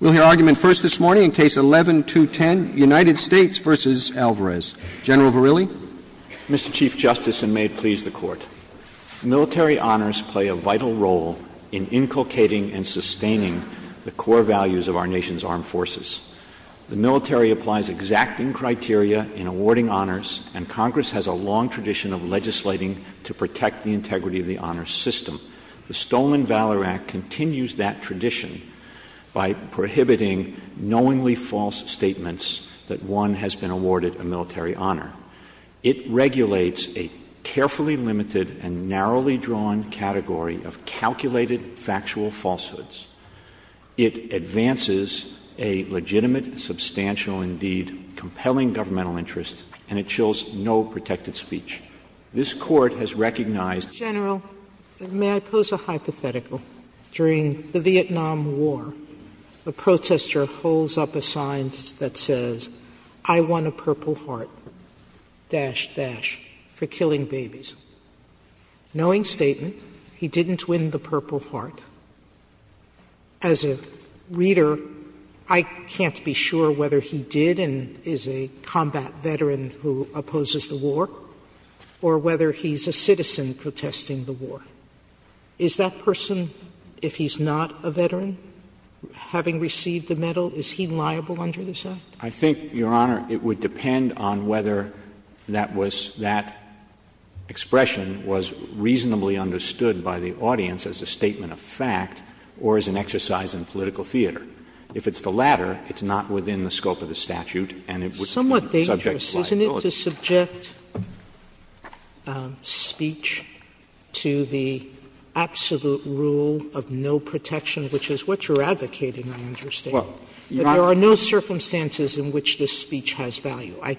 Military honors play a vital role in inculcating and sustaining the core values of our nation's armed forces. The military applies exacting criteria in awarding honors, and Congress has a long tradition of legislating to protect the integrity of the honors system. The Stoneman by prohibiting knowingly false statements that one has been awarded a military honor. It regulates a carefully limited and narrowly drawn category of calculated factual falsehoods. It advances a legitimate, substantial, indeed compelling governmental interest, and it shows no protected speech. This Court has recognized— Mr. General, may I pose a hypothetical? During the Vietnam War, a protester holds up a sign that says, I won a Purple Heart, dash, dash, for killing babies. Knowing statement, he didn't win the Purple Heart. As a reader, I can't be sure whether he did and is a combat veteran who opposes the war, or whether he's a citizen protesting the war. Is that person, if he's not a veteran, having received the medal, is he liable under this act? I think, Your Honor, it would depend on whether that was — that expression was reasonably understood by the audience as a statement of fact or as an exercise in political theater. If it's the latter, it's not within the scope of the statute and it would be subject to liability. Sotomayor, isn't it to subject speech to the absolute rule of no protection, which is what you're advocating, I understand? There are no circumstances in which this speech has value. I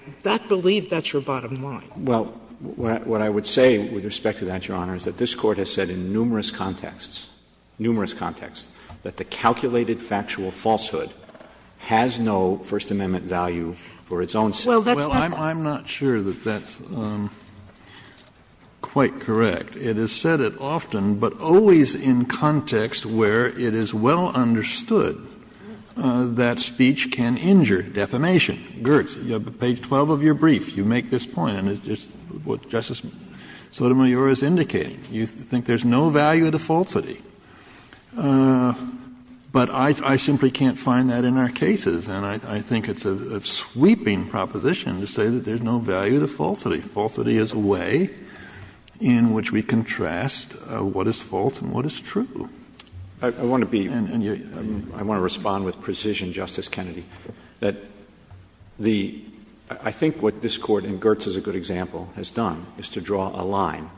believe that's your bottom line. Well, what I would say with respect to that, Your Honor, is that this Court has said in numerous contexts, numerous contexts, that the calculated factual falsehood has no First Amendment value for its own sake. Well, that's not the point. Well, I'm not sure that that's quite correct. It is said it often, but always in context where it is well understood that speech can injure defamation. Geertz, you have page 12 of your brief. You make this point, and it's what Justice Sotomayor is indicating. You think there's no value to falsity. But I simply can't find that in our cases. And I think it's a sweeping proposition to say that there's no value to falsity. Falsity is a way in which we contrast what is false and what is true. I want to be — I want to respond with precision, Justice Kennedy, that the — I think what this Court, and Geertz is a good example, has done is to draw a line.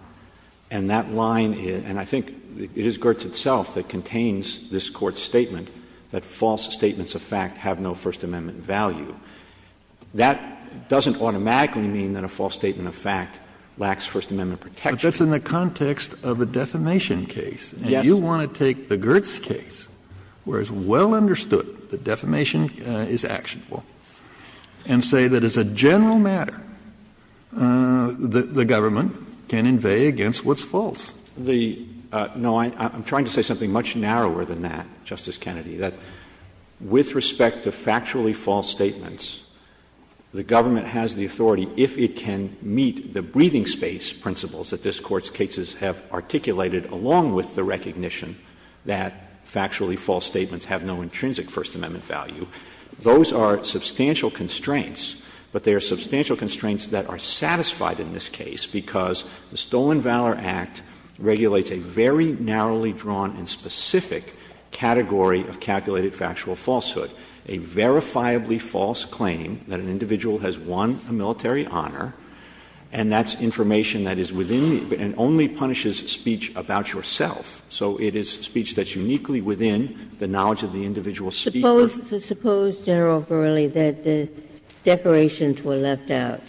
And that line — and I think it is Geertz itself that contains this Court's statement that false statements of fact have no First Amendment value. That doesn't automatically mean that a false statement of fact lacks First Amendment protection. But that's in the context of a defamation case. Yes. And you want to take the Geertz case, where it's well understood that defamation is actionable, and say that as a general matter, the government can invade against what's false. The — no, I'm trying to say something much narrower than that, Justice Kennedy, that with respect to factually false statements, the government has the authority if it can meet the breathing space principles that this Court's cases have articulated along with the recognition that factually false statements have no intrinsic First Amendment value. Those are substantial constraints, but they are substantial constraints that are satisfied in this case, because the Stolen Valor Act regulates a very narrowly drawn and specific category of calculated factual falsehood. A verifiably false claim that an individual has won a military honor, and that's information that is within the — and only punishes speech about yourself. So it is speech that's uniquely within the knowledge of the individual speaker. Suppose, General Verrilli, that the decorations were left out,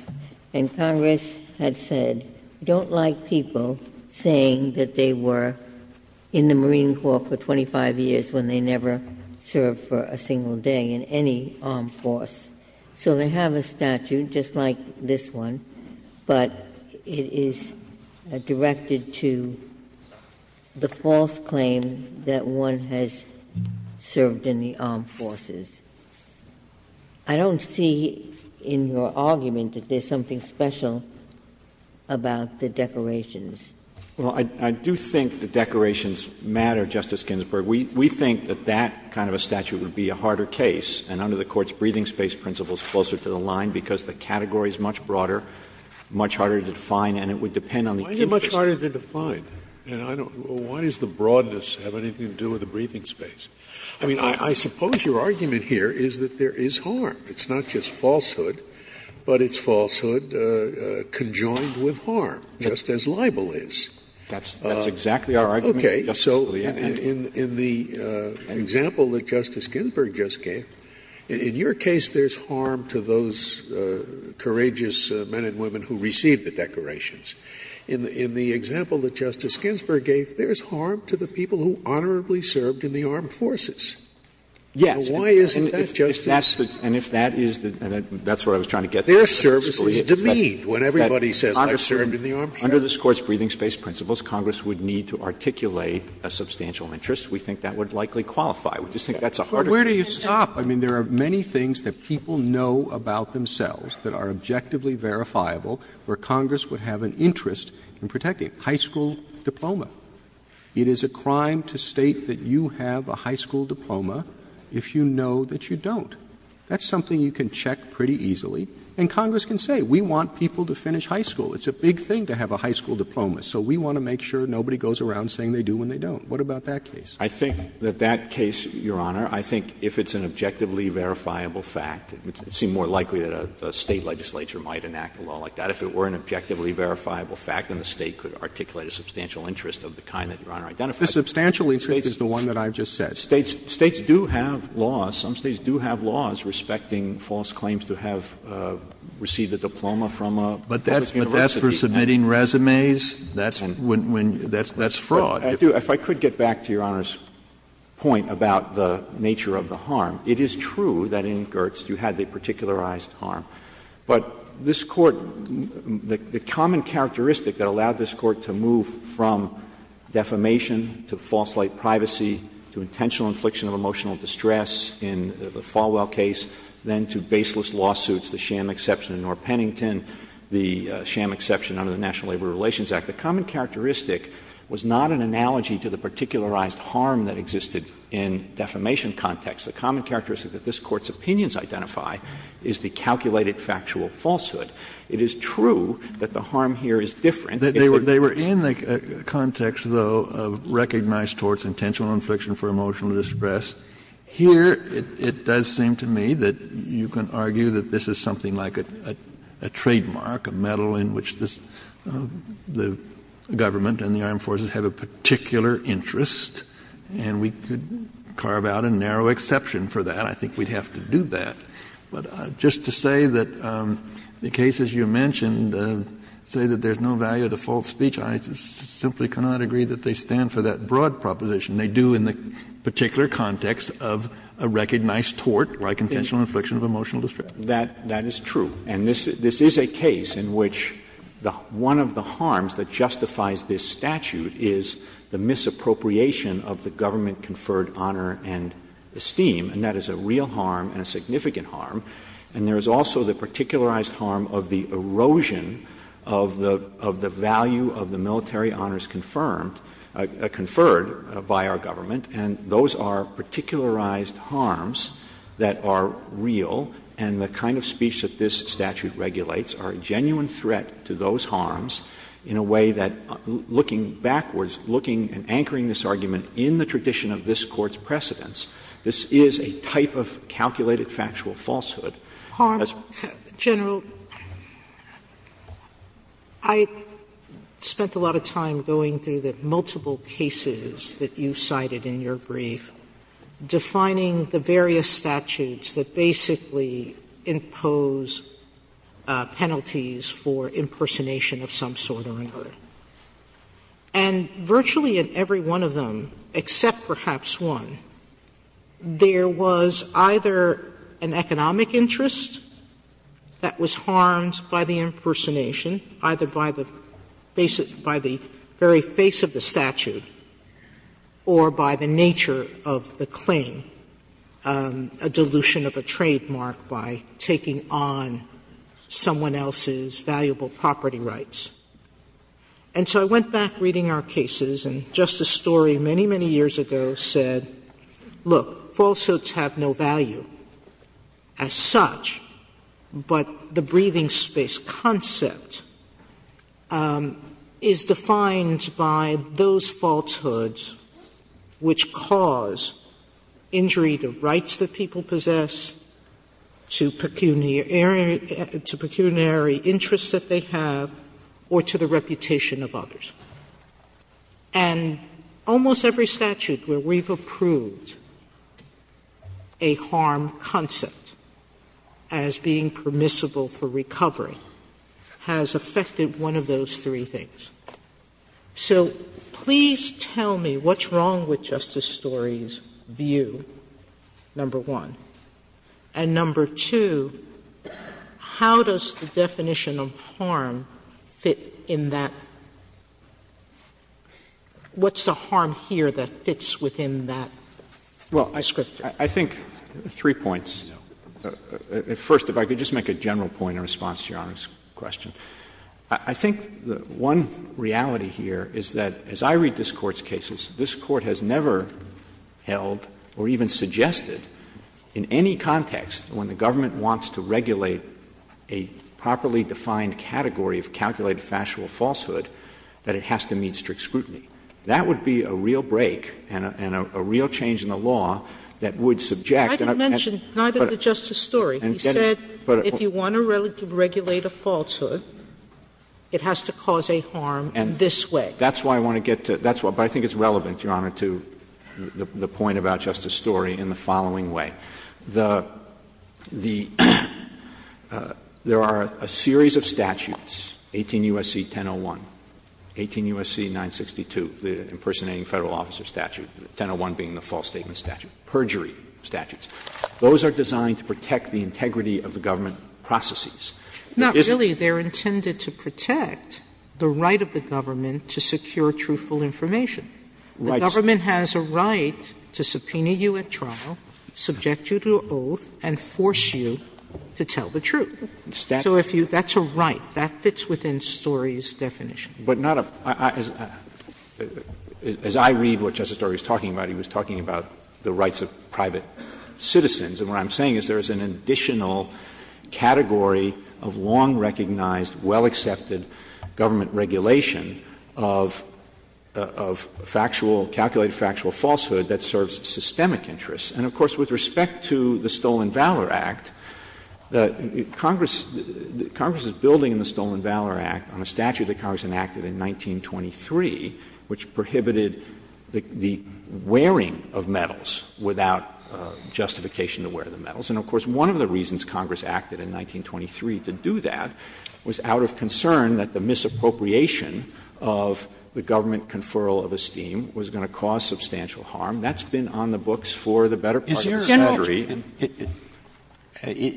and Congress had said, we don't like people saying that they were in the Marine Corps for 25 years when they never served for a single day in any armed force. So they have a statute just like this one, but it is directed to the false claim that one has served in the armed forces. I don't see in your argument that there's something special about the decorations. Well, I do think the decorations matter, Justice Ginsburg. We think that that kind of a statute would be a harder case, and under the Court's breathing space principles, closer to the line, because the category is much broader, much harder to define, and it would depend on the case. Why is it much harder to define? Why does the broadness have anything to do with the breathing space? I mean, I suppose your argument here is that there is harm. It's not just falsehood, but it's falsehood conjoined with harm, just as libel is. That's exactly our argument, Justice Scalia. In the example that Justice Ginsburg just gave, in your case there's harm to those courageous men and women who received the decorations. In the example that Justice Ginsburg gave, there's harm to the people who honorably served in the armed forces. Yes. And why isn't that, Justice? And if that is the — and that's what I was trying to get to, Justice Scalia. Their services demean when everybody says they served in the armed forces. Under this Court's breathing space principles, Congress would need to articulate a substantial interest. We think that would likely qualify. We just think that's a harder case. But where do you stop? I mean, there are many things that people know about themselves that are objectively verifiable where Congress would have an interest in protecting. High school diploma. It is a crime to state that you have a high school diploma if you know that you don't. That's something you can check pretty easily. And Congress can say, we want people to finish high school. It's a big thing to have a high school diploma. So we want to make sure nobody goes around saying they do when they don't. What about that case? I think that that case, Your Honor, I think if it's an objectively verifiable fact, it would seem more likely that a State legislature might enact a law like that. If it were an objectively verifiable fact, then the State could articulate a substantial interest of the kind that Your Honor identified. The substantial interest is the one that I've just said. States do have laws. Some States do have laws respecting false claims to have received a diploma from a public university. But that's for submitting resumes? That's fraud. If I could get back to Your Honor's point about the nature of the harm. It is true that in Gertz you had the particularized harm. But this Court, the common characteristic that allowed this Court to move from defamation to false light privacy to intentional infliction of emotional distress in the Falwell case, then to baseless lawsuits, the sham exception in North Pennington, the sham exception under the National Labor Relations Act. The common characteristic was not an analogy to the particularized harm that existed in defamation context. The common characteristic that this Court's opinions identify is the calculated factual falsehood. It is true that the harm here is different. Kennedy, they were in the context, though, of recognized towards intentional infliction for emotional distress. Here, it does seem to me that you can argue that this is something like a trademark, a medal in which the government and the armed forces have a particular interest, and we could carve out a narrow exception for that. I think we'd have to do that. But just to say that the cases you mentioned say that there's no value to false speech, I simply cannot agree that they stand for that broad proposition. They do in the particular context of a recognized tort or a contentional infliction of emotional distress. Verrilli, that is true. And this is a case in which one of the harms that justifies this statute is the misappropriation of the government-conferred honor and esteem, and that is a real harm and a significant harm. And there is also the particularized harm of the erosion of the value of the military honors conferred by our government, and those are particularized harms that are real and the kind of speech that this statute regulates are a genuine threat to those harms in a way that, looking backwards, looking and anchoring this argument in the tradition of this Court's precedents, this is a type of calculated factual falsehood. Sotomayor, yes, ma'am. Sotomayor, General, I spent a lot of time going through the multiple cases that you cited in your brief, defining the various statutes that basically impose penalties for impersonation of some sort or another, and virtually in every one of them, except perhaps one, there was either an economic interest that was harmed by the impersonation, either by the very face of the statute or by the nature of the claim, a dilution of a trademark by taking on someone else's valuable property rights. And so I went back reading our cases, and just a story many, many years ago said, look, falsehoods have no value as such, but the breathing space concept is defined by those falsehoods which cause injury to rights that people possess, to pecuniary interests that they have or to the reputation of others. And almost every statute where we've approved a harm concept as being permissible for recovery has affected one of those three things. So please tell me what's wrong with Justice Story's view, number one. And number two, how does the definition of harm fit in that? What's the harm here that fits within that description? Verrilli, I think three points. First, if I could just make a general point in response to Your Honor's question. I think one reality here is that as I read this Court's cases, this Court has never held or even suggested in any context when the government wants to regulate a properly defined category of calculated factual falsehood that it has to meet strict scrutiny. That would be a real break and a real change in the law that would subject. Sotomayor, I didn't mention neither the Justice Story. He said if you want to regulate a falsehood, it has to cause a harm in this way. That's why I want to get to that. But I think it's relevant, Your Honor, to the point about Justice Story in the following way. The — there are a series of statutes, 18 U.S.C. 1001, 18 U.S.C. 962, the impersonating Federal officer statute, 1001 being the false statement statute, perjury statutes. Those are designed to protect the integrity of the government processes. Sotomayor, there isn't. Sotomayor, they're intended to protect the right of the government to secure truthful information. The government has a right to subpoena you at trial, subject you to an oath, and force you to tell the truth. So if you — that's a right. That fits within Story's definition. Verrilli, but not a — as I read what Justice Story was talking about, he was talking about the rights of private citizens. And what I'm saying is there is an additional category of long-recognized, well-accepted government regulation of factual, calculated factual falsehood that serves systemic interests. And, of course, with respect to the Stolen Valor Act, Congress is building the Stolen Valor Act on a statute that Congress enacted in 1923, which prohibited the wearing of medals without justification to wear the medals. And, of course, one of the reasons Congress acted in 1923 to do that was out of concern that the misappropriation of the government conferral of esteem was going to cause substantial harm. That's been on the books for the better part of a century. Alito,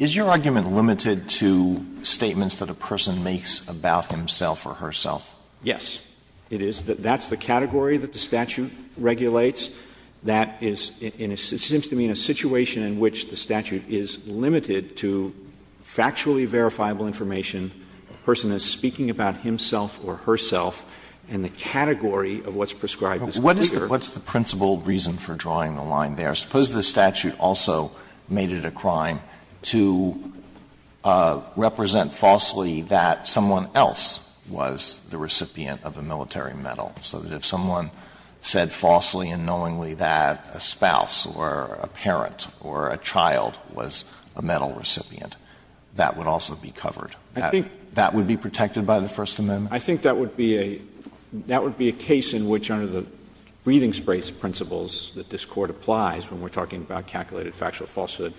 is your argument limited to statements that a person makes about himself or herself? Yes, it is. That's the category that the statute regulates. That is in a — it seems to me in a situation in which the statute is limited to factually verifiable information, a person is speaking about himself or herself and the category of what's prescribed is clear. Alito, what's the principal reason for drawing the line there? Suppose the statute also made it a crime to represent falsely that someone else was the recipient of a military medal, so that if someone said falsely and no one else did, knowingly, that a spouse or a parent or a child was a medal recipient, that would also be covered. That would be protected by the First Amendment? I think that would be a — that would be a case in which, under the breathing space principles that this Court applies when we're talking about calculated factual falsehood,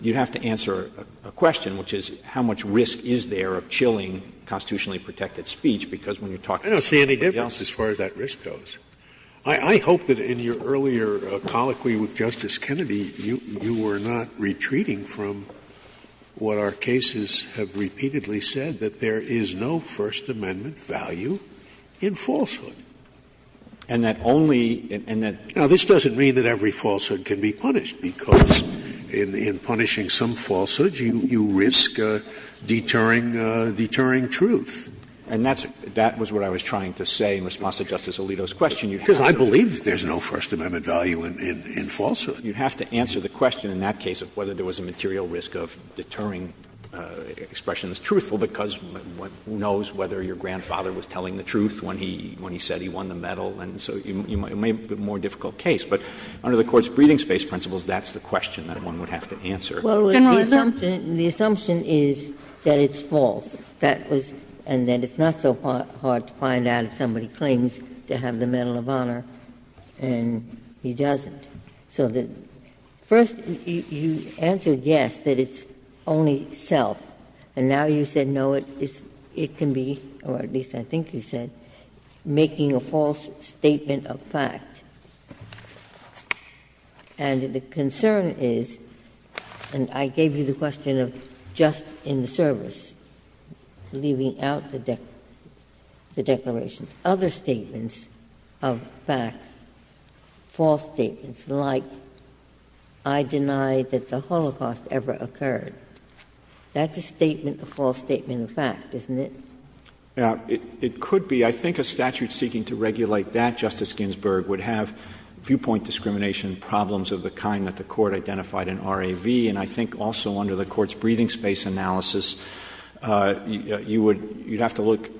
you'd have to answer a question, which is, how much risk is there of chilling constitutionally protected speech, because when you're talking about somebody else? I don't see any difference as far as that risk goes. I hope that in your earlier colloquy with Justice Kennedy, you were not retreating from what our cases have repeatedly said, that there is no First Amendment value in falsehood. And that only — and that — Now, this doesn't mean that every falsehood can be punished, because in punishing some falsehoods, you risk deterring — deterring truth. And that's — that was what I was trying to say in response to Justice Alito's question. Because I believe that there's no First Amendment value in falsehood. You'd have to answer the question in that case of whether there was a material risk of deterring expressions truthful, because who knows whether your grandfather was telling the truth when he — when he said he won the medal, and so it may be a more difficult case. But under the Court's breathing space principles, that's the question that one would have to answer. Well, the assumption is that it's false. That was — and that it's not so hard to find out if somebody claims to have the medal of honor, and he doesn't. So the — first, you answered yes, that it's only self, and now you said, no, it can be, or at least I think you said, making a false statement of fact. And the concern is, and I gave you the question of just in the service, leaving out the declarations, other statements of fact, false statements, like I deny that the Holocaust ever occurred. That's a statement, a false statement of fact, isn't it? Now, it could be. I think a statute seeking to regulate that, Justice Ginsburg, would have viewpoint discrimination problems of the kind that the Court identified in RAV, and I think also under the Court's breathing space analysis, you would — you'd have to look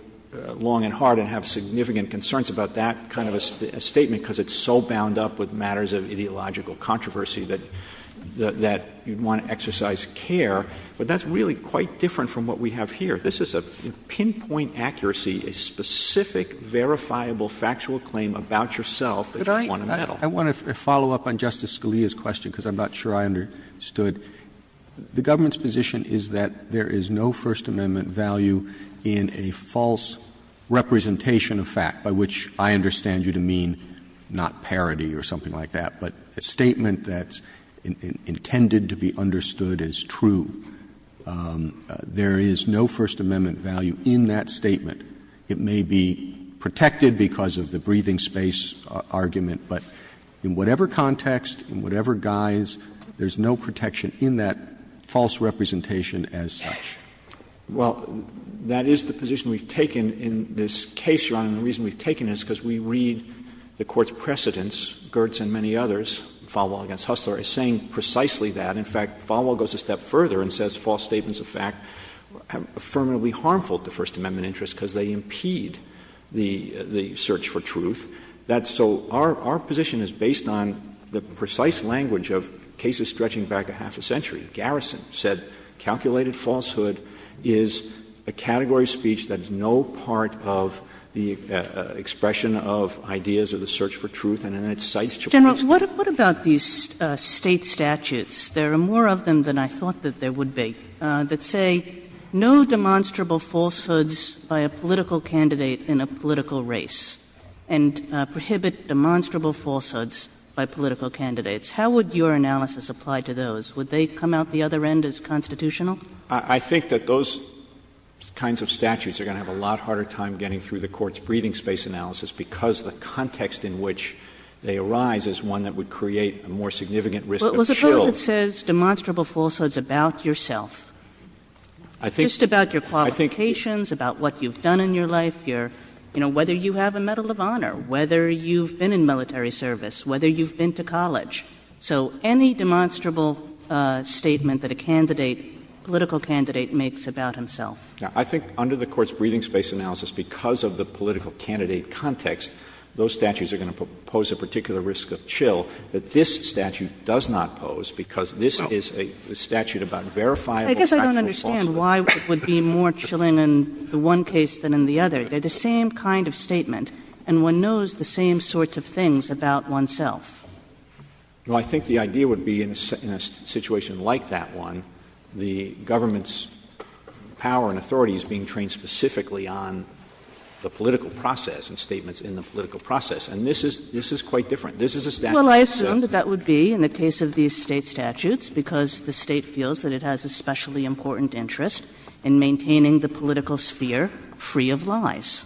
long and hard and have significant concerns about that kind of a statement because it's so bound up with matters of ideological controversy that — that you'd want to exercise care. But that's really quite different from what we have here. This is a pinpoint accuracy, a specific, verifiable, factual claim about yourself that you want to meddle. Roberts, I want to follow up on Justice Scalia's question, because I'm not sure I understood. The government's position is that there is no First Amendment value in a false representation of fact, by which I understand you to mean not parity or something like that, but a statement that's intended to be understood as true. There is no First Amendment value in that statement. It may be protected because of the breathing space argument, but in whatever context, in whatever guise, there's no protection in that false representation as such. Well, that is the position we've taken in this case, Your Honor, and the reason we've taken it is because we read the Court's precedents, Gertz and many others, Falwell v. Hustler, as saying precisely that. And, in fact, Falwell goes a step further and says false statements of fact are affirmatively harmful to First Amendment interests because they impede the search for truth. So our position is based on the precise language of cases stretching back a half a century. Garrison said calculated falsehood is a category of speech that is no part of the expression of ideas or the search for truth, and then it cites Chaputis. But what about these State statutes? There are more of them than I thought that there would be that say, no demonstrable falsehoods by a political candidate in a political race, and prohibit demonstrable falsehoods by political candidates. How would your analysis apply to those? Would they come out the other end as constitutional? I think that those kinds of statutes are going to have a lot harder time getting through the Court's breathing space analysis because the context in which they arise is one that would create a more significant risk of shields. Well, suppose it says demonstrable falsehoods about yourself, just about your qualifications, about what you've done in your life, your — you know, whether you have a Medal of Honor, whether you've been in military service, whether you've been to college. So any demonstrable statement that a candidate, political candidate, makes about himself. I think under the Court's breathing space analysis, because of the political candidate context, those statutes are going to pose a particular risk of chill that this statute does not pose because this is a statute about verifiable factual falsehoods. I guess I don't understand why it would be more chilling in the one case than in the other. They're the same kind of statement, and one knows the same sorts of things about oneself. Well, I think the idea would be in a situation like that one, the government's power and authority is being trained specifically on the political process. And the State has a special interest in the political process. And this is — this is quite different. This is a statute that's a— Well, I assume that that would be in the case of these State statutes, because the State feels that it has a specially important interest in maintaining the political sphere free of lies.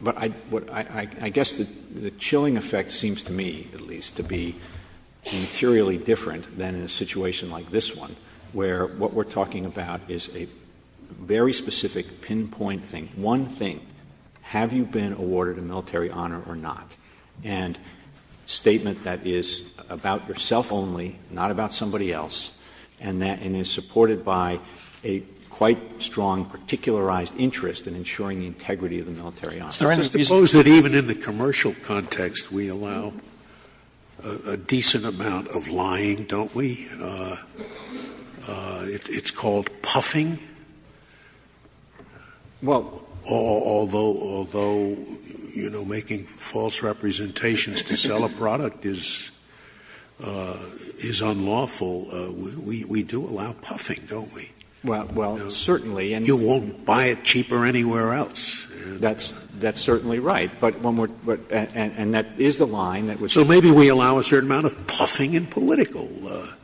But I guess the chilling effect seems to me, at least, to be materially different than in a situation like this one, where what we're talking about is a very specific pinpoint thing. One thing, have you been awarded a military honor or not? And a statement that is about yourself only, not about somebody else, and that — and is supported by a quite strong particularized interest in ensuring the integrity of the military honor. Scalia. Suppose that even in the commercial context, we allow a decent amount of lying, don't we? It's called puffing. Although, you know, making false representations to sell a product is unlawful, we do allow puffing, don't we? Well, certainly. And you won't buy it cheaper anywhere else. That's certainly right. But when we're — and that is the line that we're talking about. So maybe we allow a certain amount of puffing in political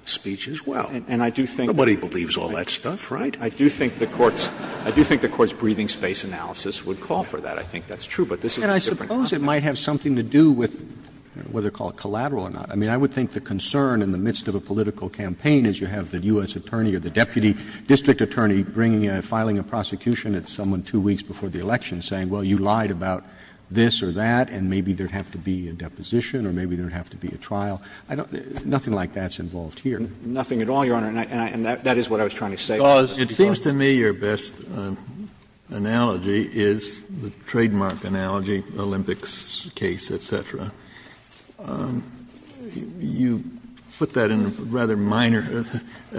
speech as well. And I do think— Nobody believes all that stuff, right? I do think the Court's — I do think the Court's breathing space analysis would call for that. I think that's true. But this is a different context. And I suppose it might have something to do with whether to call it collateral or not. I mean, I would think the concern in the midst of a political campaign is you have the U.S. attorney or the deputy district attorney bringing a — filing a prosecution at someone 2 weeks before the election saying, well, you lied about this or that, and maybe there would have to be a deposition or maybe there would have to be a trial. I don't — nothing like that's involved here. Nothing at all, Your Honor. And that is what I was trying to say. Kennedy, it seems to me your best analogy is the trademark analogy, Olympics case, et cetera. You put that in a rather minor —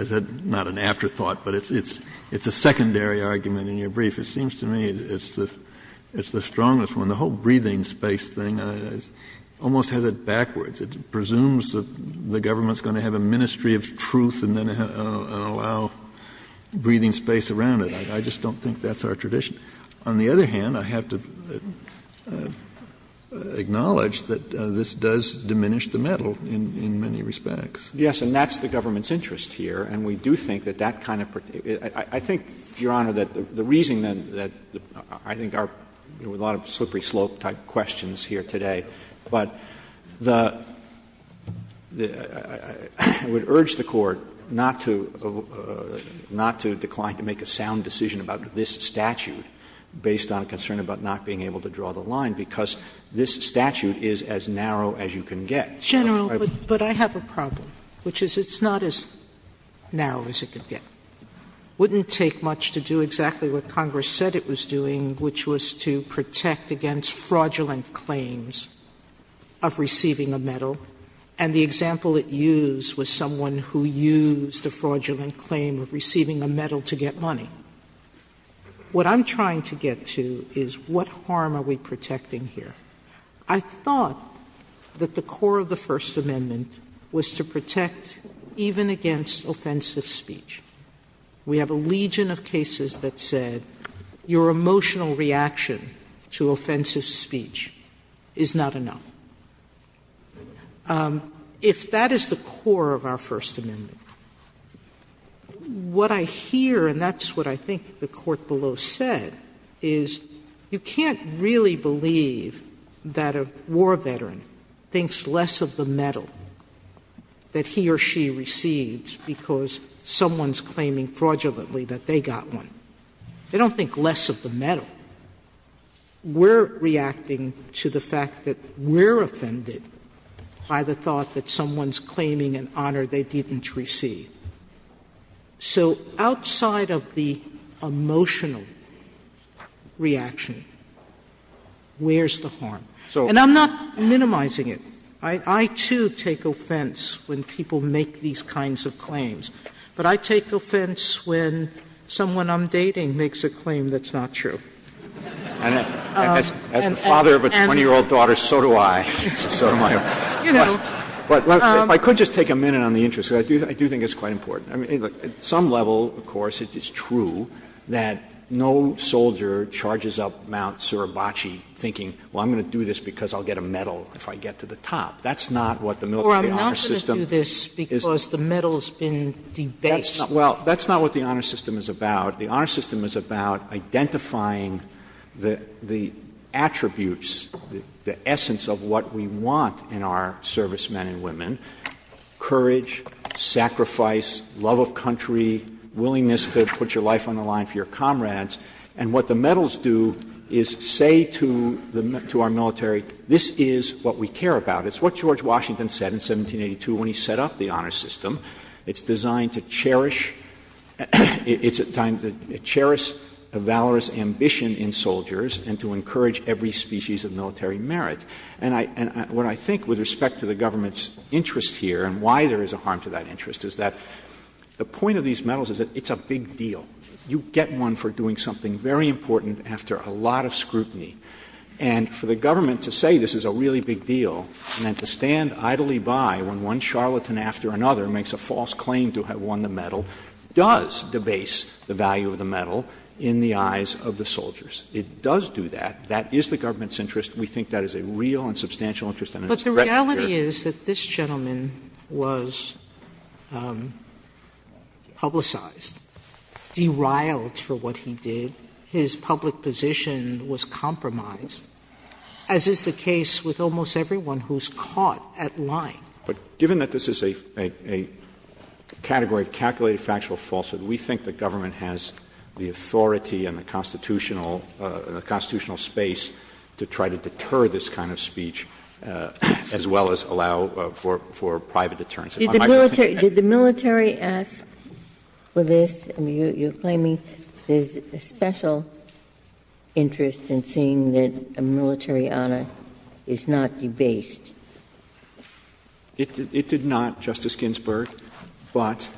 not an afterthought, but it's a secondary argument in your brief. It seems to me it's the strongest one. The whole breathing space thing almost has it backwards. It presumes that the government is going to have a ministry of truth and then allow breathing space around it. I just don't think that's our tradition. On the other hand, I have to acknowledge that this does diminish the metal in many respects. Yes, and that's the government's interest here. And we do think that that kind of — I think, Your Honor, that the reason that — I think our — there were a lot of slippery slope-type questions here today. But the — I would urge the Court not to — not to decline to make a sound decision about this statute based on concern about not being able to draw the line, because this statute is as narrow as you can get. Sotomayor, but I have a problem, which is it's not as narrow as it could get. It wouldn't take much to do exactly what Congress said it was doing, which was to protect against fraudulent claims of receiving a medal. And the example it used was someone who used a fraudulent claim of receiving a medal to get money. What I'm trying to get to is what harm are we protecting here? I thought that the core of the First Amendment was to protect even against offensive speech. We have a legion of cases that said your emotional reaction to offensive speech is not enough. If that is the core of our First Amendment, what I hear, and that's what I think the Court below said, is you can't really believe that a war veteran thinks less of the medal that he or she receives because someone's claiming fraudulently that they got one. They don't think less of the medal. We're reacting to the fact that we're offended by the thought that someone's claiming an honor they didn't receive. So outside of the emotional reaction, where's the harm? And I'm not minimizing it. I, too, take offense when people make these kinds of claims. But I take offense when someone I'm dating makes a claim that's not true. And as the father of a 20-year-old daughter, so do I. So do I. But if I could just take a minute on the interest, because I do think it's quite important. At some level, of course, it's true that no soldier charges up Mount Suribachi thinking, well, I'm going to do this because I'll get a medal if I get to the top. That's not what the military honor system is. Sotomayor, I'm not going to do this because the medal's been debased. Well, that's not what the honor system is about. The honor system is about identifying the attributes, the essence of what we want in our servicemen and women, courage, sacrifice, love of country, willingness to put your life on the line for your comrades. And what the medals do is say to our military, this is what we care about. It's what George Washington said in 1782 when he set up the honor system. It's designed to cherish the valorous ambition in soldiers and to encourage every species of military merit. And what I think with respect to the government's interest here and why there is a harm to that interest is that the point of these medals is that it's a big deal. You get one for doing something very important after a lot of scrutiny. And for the government to say this is a really big deal and then to stand idly by when one charlatan after another makes a false claim to have won the medal does debase the value of the medal in the eyes of the soldiers. It does do that. That is the government's interest. We think that is a real and substantial interest and it's directly shared. Sotomayor, but the reality is that this gentleman was publicized. Deriled for what he did. His public position was compromised, as is the case with almost everyone who is caught at lying. But given that this is a category of calculated factual falsehood, we think the government has the authority and the constitutional space to try to deter this kind of speech as well as allow for private deterrence. Did the military ask for this? You are claiming there is a special interest in seeing that a military honor is not debased. It did not, Justice Ginsburg, but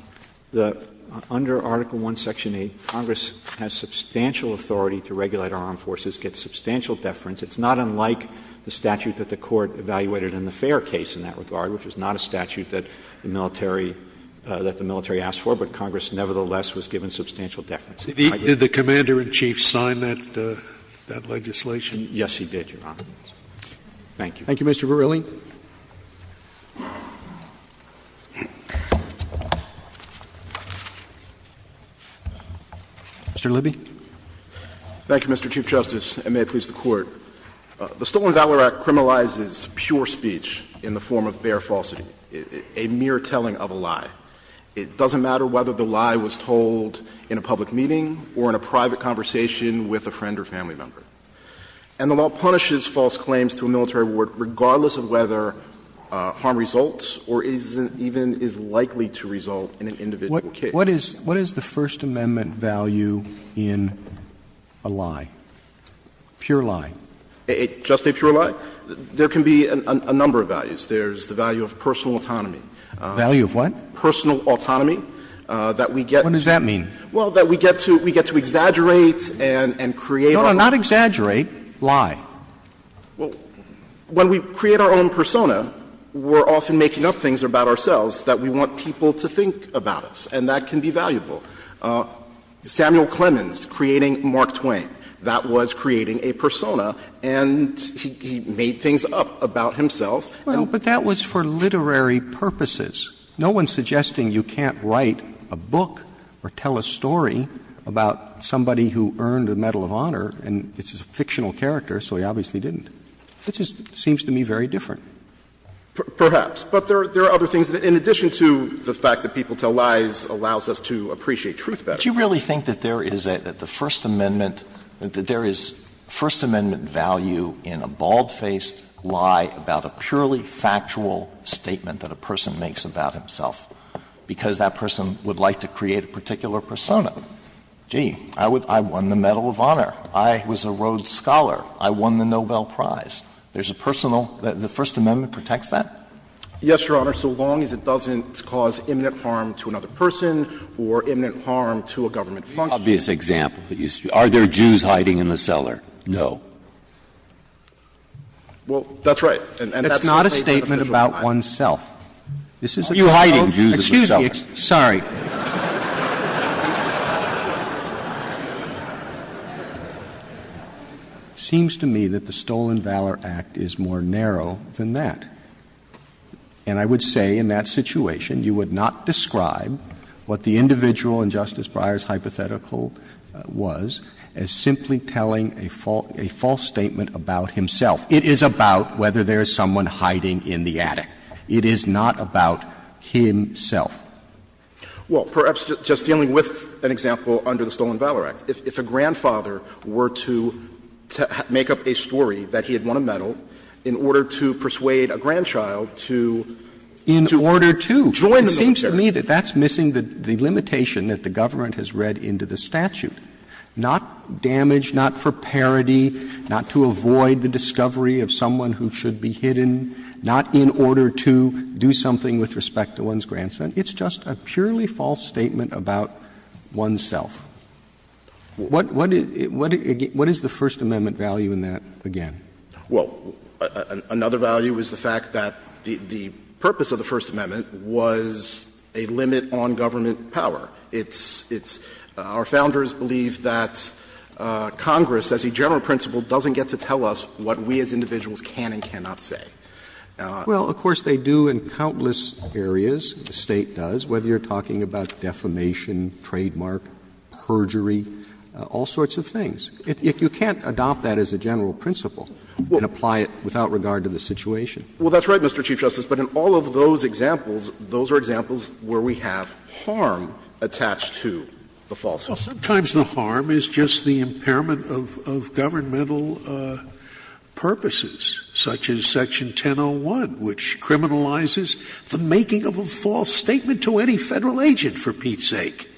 under Article I, Section 8, Congress has substantial authority to regulate our armed forces, get substantial deference. It's not unlike the statute that the Court evaluated in the Fair case in that regard, which is not a statute that the military asked for, but Congress nevertheless was given substantial deference. Did the commander in chief sign that legislation? Yes, he did, Your Honor. Thank you. Thank you, Mr. Verrilli. Mr. Libby. Thank you, Mr. Chief Justice, and may it please the Court. The Stolen Value Act criminalizes pure speech in the form of bare falsity, a mere telling of a lie. It doesn't matter whether the lie was told in a public meeting or in a private conversation with a friend or family member. And the law punishes false claims to a military award regardless of whether harm results or is even is likely to result in an individual case. What is the First Amendment value in a lie, a pure lie? Just a pure lie? There can be a number of values. There's the value of personal autonomy. Value of what? Personal autonomy, that we get. What does that mean? Well, that we get to exaggerate and create our own. No, no, not exaggerate. Lie. Well, when we create our own persona, we're often making up things about ourselves that we want people to think about us, and that can be valuable. Samuel Clemens creating Mark Twain. That was creating a persona, and he made things up about himself. Well, but that was for literary purposes. No one's suggesting you can't write a book or tell a story about somebody who earned a Medal of Honor, and it's a fictional character, so he obviously didn't. It just seems to me very different. Perhaps. But there are other things in addition to the fact that people tell lies allows us to appreciate truth better. But you really think that there is a the First Amendment, that there is First Amendment value in a bald-faced lie about a purely factual statement that a person makes about himself because that person would like to create a particular persona? Gee, I won the Medal of Honor, I was a Rhodes Scholar, I won the Nobel Prize. There's a personal the First Amendment protects that? Yes, Your Honor, so long as it doesn't cause imminent harm to another person or imminent harm to a government function. The obvious example that you speak of, are there Jews hiding in the cellar? No. Well, that's right. And that's certainly a beneficial lie. That's not a statement about oneself. Are you hiding Jews in the cellar? Excuse me. Sorry. It seems to me that the Stolen Valor Act is more narrow than that. And I would say in that situation you would not describe what the individual in Justice Breyer's hypothetical was as simply telling a false statement about himself. It is about whether there is someone hiding in the attic. It is not about himself. Well, perhaps just dealing with an example under the Stolen Valor Act, if a grandfather were to make up a story that he had won a medal in order to persuade a grandchild to join the military. In order to. It seems to me that that's missing the limitation that the government has read into the statute. Not damage, not for parody, not to avoid the discovery of someone who should be hidden, not in order to do something with respect to one's grandson. It's just a purely false statement about oneself. What is the First Amendment value in that, again? Well, another value is the fact that the purpose of the First Amendment was a limit on government power. It's — our Founders believe that Congress, as a general principle, doesn't get to tell us what we as individuals can and cannot say. Well, of course, they do in countless areas, the State does, whether you're talking about defamation, trademark, perjury, all sorts of things. You can't adopt that as a general principle and apply it without regard to the situation. Well, that's right, Mr. Chief Justice, but in all of those examples, those are examples where we have harm attached to the falsehood. Well, sometimes the harm is just the impairment of governmental purposes, such as Section 1001, which criminalizes the making of a false statement to any Federal agent, for Pete's sake.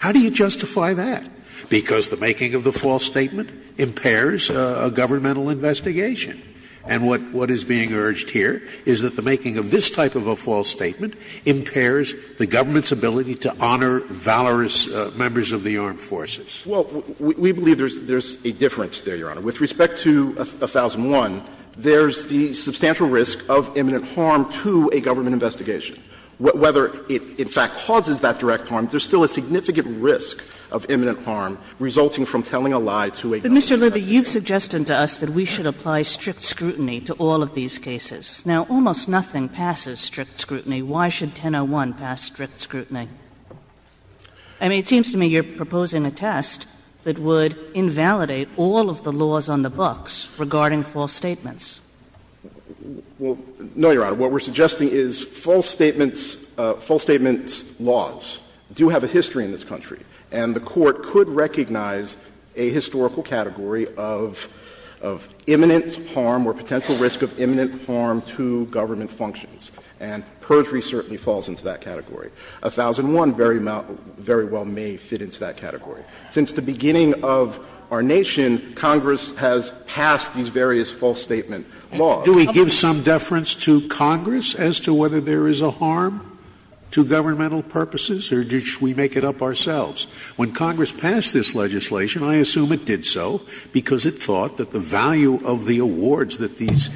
How do you justify that? Because the making of the false statement impairs a governmental investigation. And what is being urged here is that the making of this type of a false statement impairs the government's ability to honor valorous members of the armed forces. Well, we believe there's a difference there, Your Honor. With respect to 1001, there's the substantial risk of imminent harm to a government investigation. Whether it in fact causes that direct harm, there's still a significant risk of imminent harm resulting from telling a lie to a government investigation. Kagan. Kagan. But, Mr. Libby, you've suggested to us that we should apply strict scrutiny to all of these cases. Now, almost nothing passes strict scrutiny. Why should 1001 pass strict scrutiny? I mean, it seems to me you're proposing a test that would invalidate all of the laws on the books regarding false statements. Well, no, Your Honor. What we're suggesting is false statements laws do have a history in this country, and the Court could recognize a historical category of imminent harm or potential risk of imminent harm to government functions. And perjury certainly falls into that category. 1001 very well may fit into that category. Since the beginning of our nation, Congress has passed these various false statement laws. Scalia. Do we give some deference to Congress as to whether there is a harm to governmental purposes, or should we make it up ourselves? When Congress passed this legislation, I assume it did so because it thought that the value of the awards that these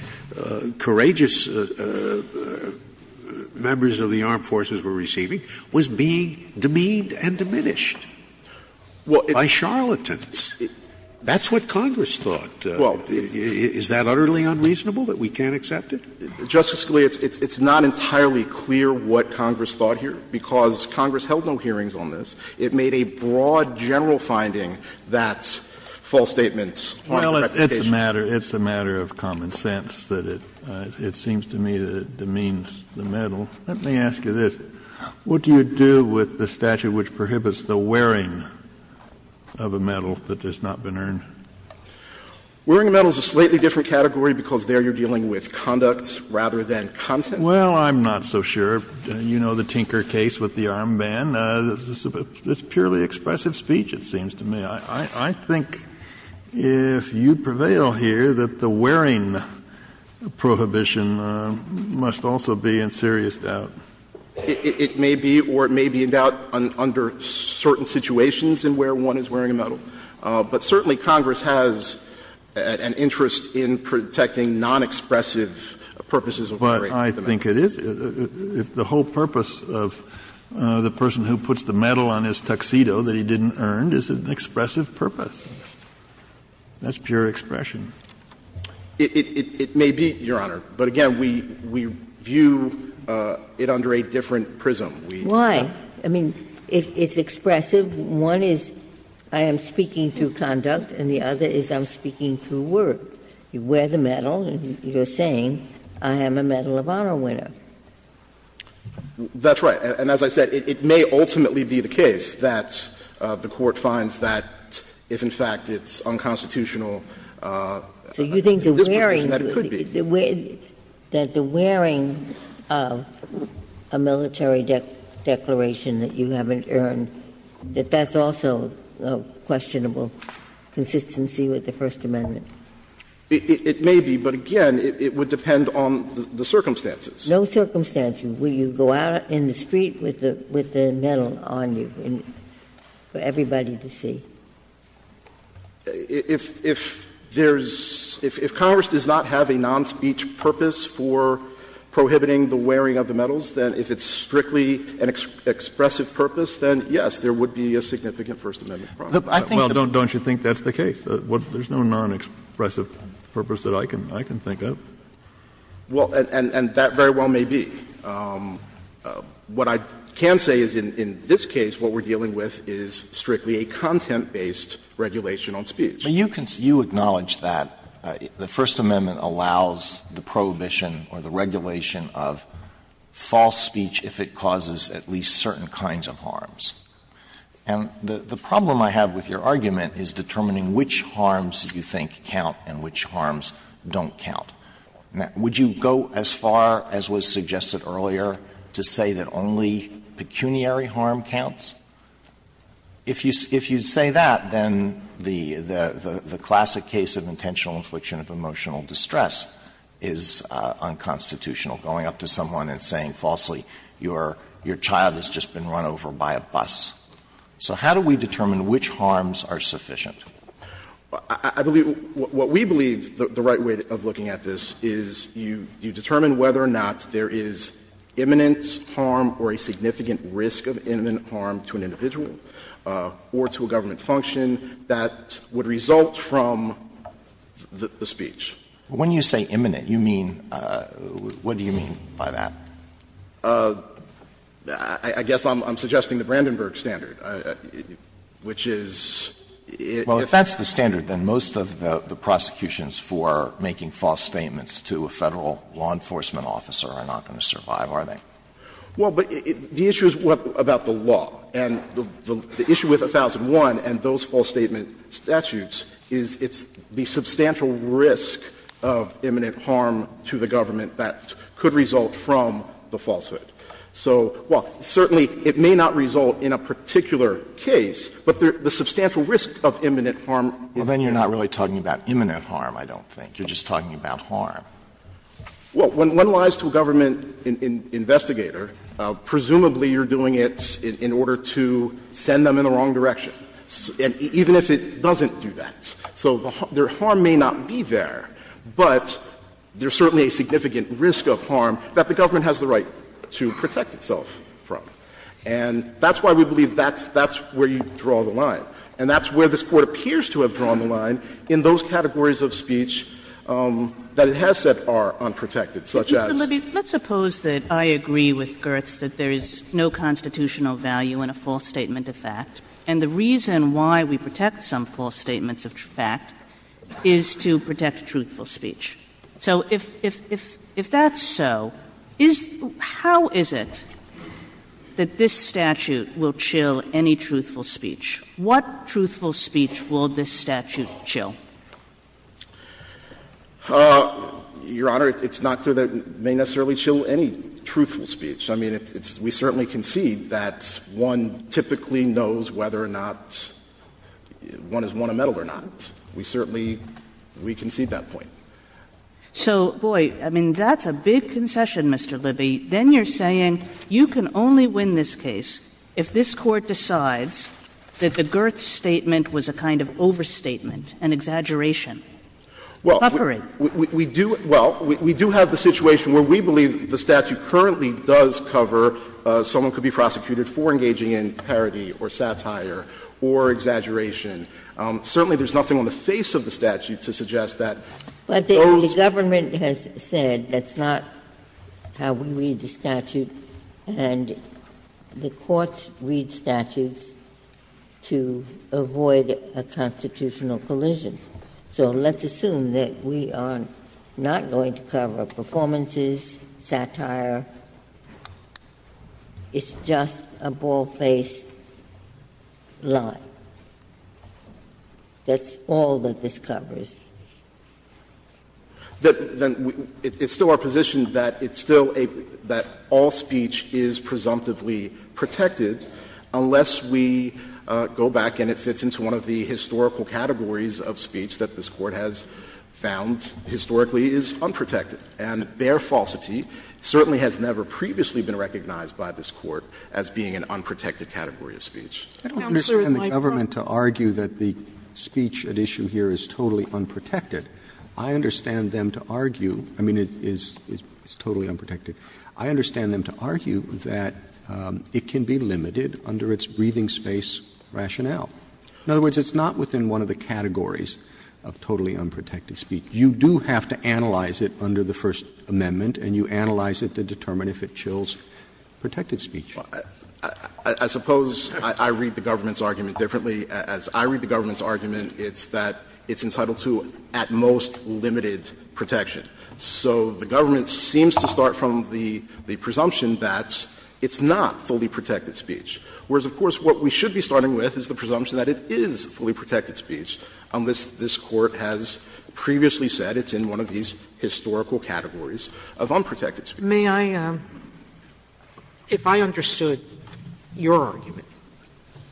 courageous members of the armed forces were receiving was being demeaned and diminished by charlatans. That's what Congress thought. Is that utterly unreasonable that we can't accept it? Justice Scalia, it's not entirely clear what Congress thought here, because Congress held no hearings on this. It made a broad general finding that false statements are a predication. Well, it's a matter of common sense that it seems to me that it demeans the medal. Let me ask you this. What do you do with the statute which prohibits the wearing of a medal that has not been earned? Wearing a medal is a slightly different category, because there you're dealing with conducts rather than content. Well, I'm not so sure. You know the Tinker case with the armband. It's purely expressive speech, it seems to me. I think if you prevail here, that the wearing prohibition must also be in serious doubt. It may be, or it may be in doubt under certain situations in where one is wearing a medal. But certainly Congress has an interest in protecting nonexpressive purposes of wearing a medal. But I think it is. The whole purpose of the person who puts the medal on his tuxedo that he didn't earn is an expressive purpose. That's pure expression. It may be, Your Honor, but again, we view it under a different prism. Why? I mean, it's expressive. One is I am speaking through conduct, and the other is I'm speaking through words. You wear the medal, and you're saying I am a medal of honor winner. That's right. And as I said, it may ultimately be the case that the Court finds that if in fact it's unconstitutional, in this position, that it could be. So you think the wearing of a military declaration that you haven't earned, that that's also a questionable consistency with the First Amendment? It may be, but again, it would depend on the circumstances. No circumstances. Will you go out in the street with the medal on you for everybody to see? If there's — if Congress does not have a non-speech purpose for prohibiting the wearing of the medals, then if it's strictly an expressive purpose, then, yes, there would be a significant First Amendment problem. Well, don't you think that's the case? There's no non-expressive purpose that I can think of. Well, and that very well may be. What I can say is in this case, what we're dealing with is strictly a content-based regulation on speech. But you acknowledge that the First Amendment allows the prohibition or the regulation of false speech if it causes at least certain kinds of harms. And the problem I have with your argument is determining which harms you think count and which harms don't count. Would you go as far as was suggested earlier to say that only pecuniary harm counts? If you'd say that, then the classic case of intentional infliction of emotional distress is unconstitutional, going up to someone and saying falsely, your child has just been run over by a bus. So how do we determine which harms are sufficient? I believe what we believe, the right way of looking at this, is you determine whether or not there is imminent harm or a significant risk of imminent harm to an individual or to a government function that would result from the speech. But when you say imminent, you mean, what do you mean by that? I guess I'm suggesting the Brandenburg standard, which is, if you're going to do something Well, if that's the standard, then most of the prosecutions for making false statements to a Federal law enforcement officer are not going to survive, are they? Well, but the issue is about the law, and the issue with 1001 and those false statement statutes is it's the substantial risk of imminent harm to the government that could result from the falsehood. So, well, certainly it may not result in a particular case, but the substantial risk of imminent harm is there. Well, then you're not really talking about imminent harm, I don't think. You're just talking about harm. Well, when one lies to a government investigator, presumably you're doing it in order to send them in the wrong direction, even if it doesn't do that. So their harm may not be there, but there's certainly a significant risk of harm that the government has the right to protect itself from. And that's why we believe that's where you draw the line. And that's where this Court appears to have drawn the line in those categories of speech that it has said are unprotected, such as. Kaganer, let's suppose that I agree with Gertz that there is no constitutional value in a false statement of fact, and the reason why we protect some false statements of fact is to protect truthful speech. So if that's so, is — how is it that this statute will chill any truthful speech? What truthful speech will this statute chill? Your Honor, it's not that it may necessarily chill any truthful speech. I mean, we certainly concede that one typically knows whether or not one has won a medal or not. We certainly — we concede that point. So, boy, I mean, that's a big concession, Mr. Libby. Then you're saying you can only win this case if this Court decides that the Gertz statement was a kind of overstatement, an exaggeration, buffering. Well, we do — well, we do have the situation where we believe the statute currently does cover someone could be prosecuted for engaging in parody or satire or exaggeration. Certainly, there's nothing on the face of the statute to suggest that those — But the government has said that's not how we read the statute, and the courts read statutes to avoid a constitutional collision. So let's assume that we are not going to cover performances, satire. It's just a bald-faced lie. That's all that this covers. Then it's still our position that it's still a — that all speech is presumptively protected unless we go back and it fits into one of the historical categories of speech that this Court has found historically is unprotected. And bare falsity certainly has never previously been recognized by this Court as being an unprotected category of speech. Roberts I don't understand the government to argue that the speech at issue here is totally unprotected. I understand them to argue — I mean, it is totally unprotected. I understand them to argue that it can be limited under its breathing space rationale. In other words, it's not within one of the categories of totally unprotected speech. You do have to analyze it under the First Amendment, and you analyze it to determine if it chills protected speech. I suppose I read the government's argument differently. As I read the government's argument, it's that it's entitled to at most limited protection. So the government seems to start from the presumption that it's not fully protected speech, whereas, of course, what we should be starting with is the presumption that it is fully protected speech unless this Court has previously said it's in one of these historical categories of unprotected speech. Sotomayor, may I — if I understood your argument,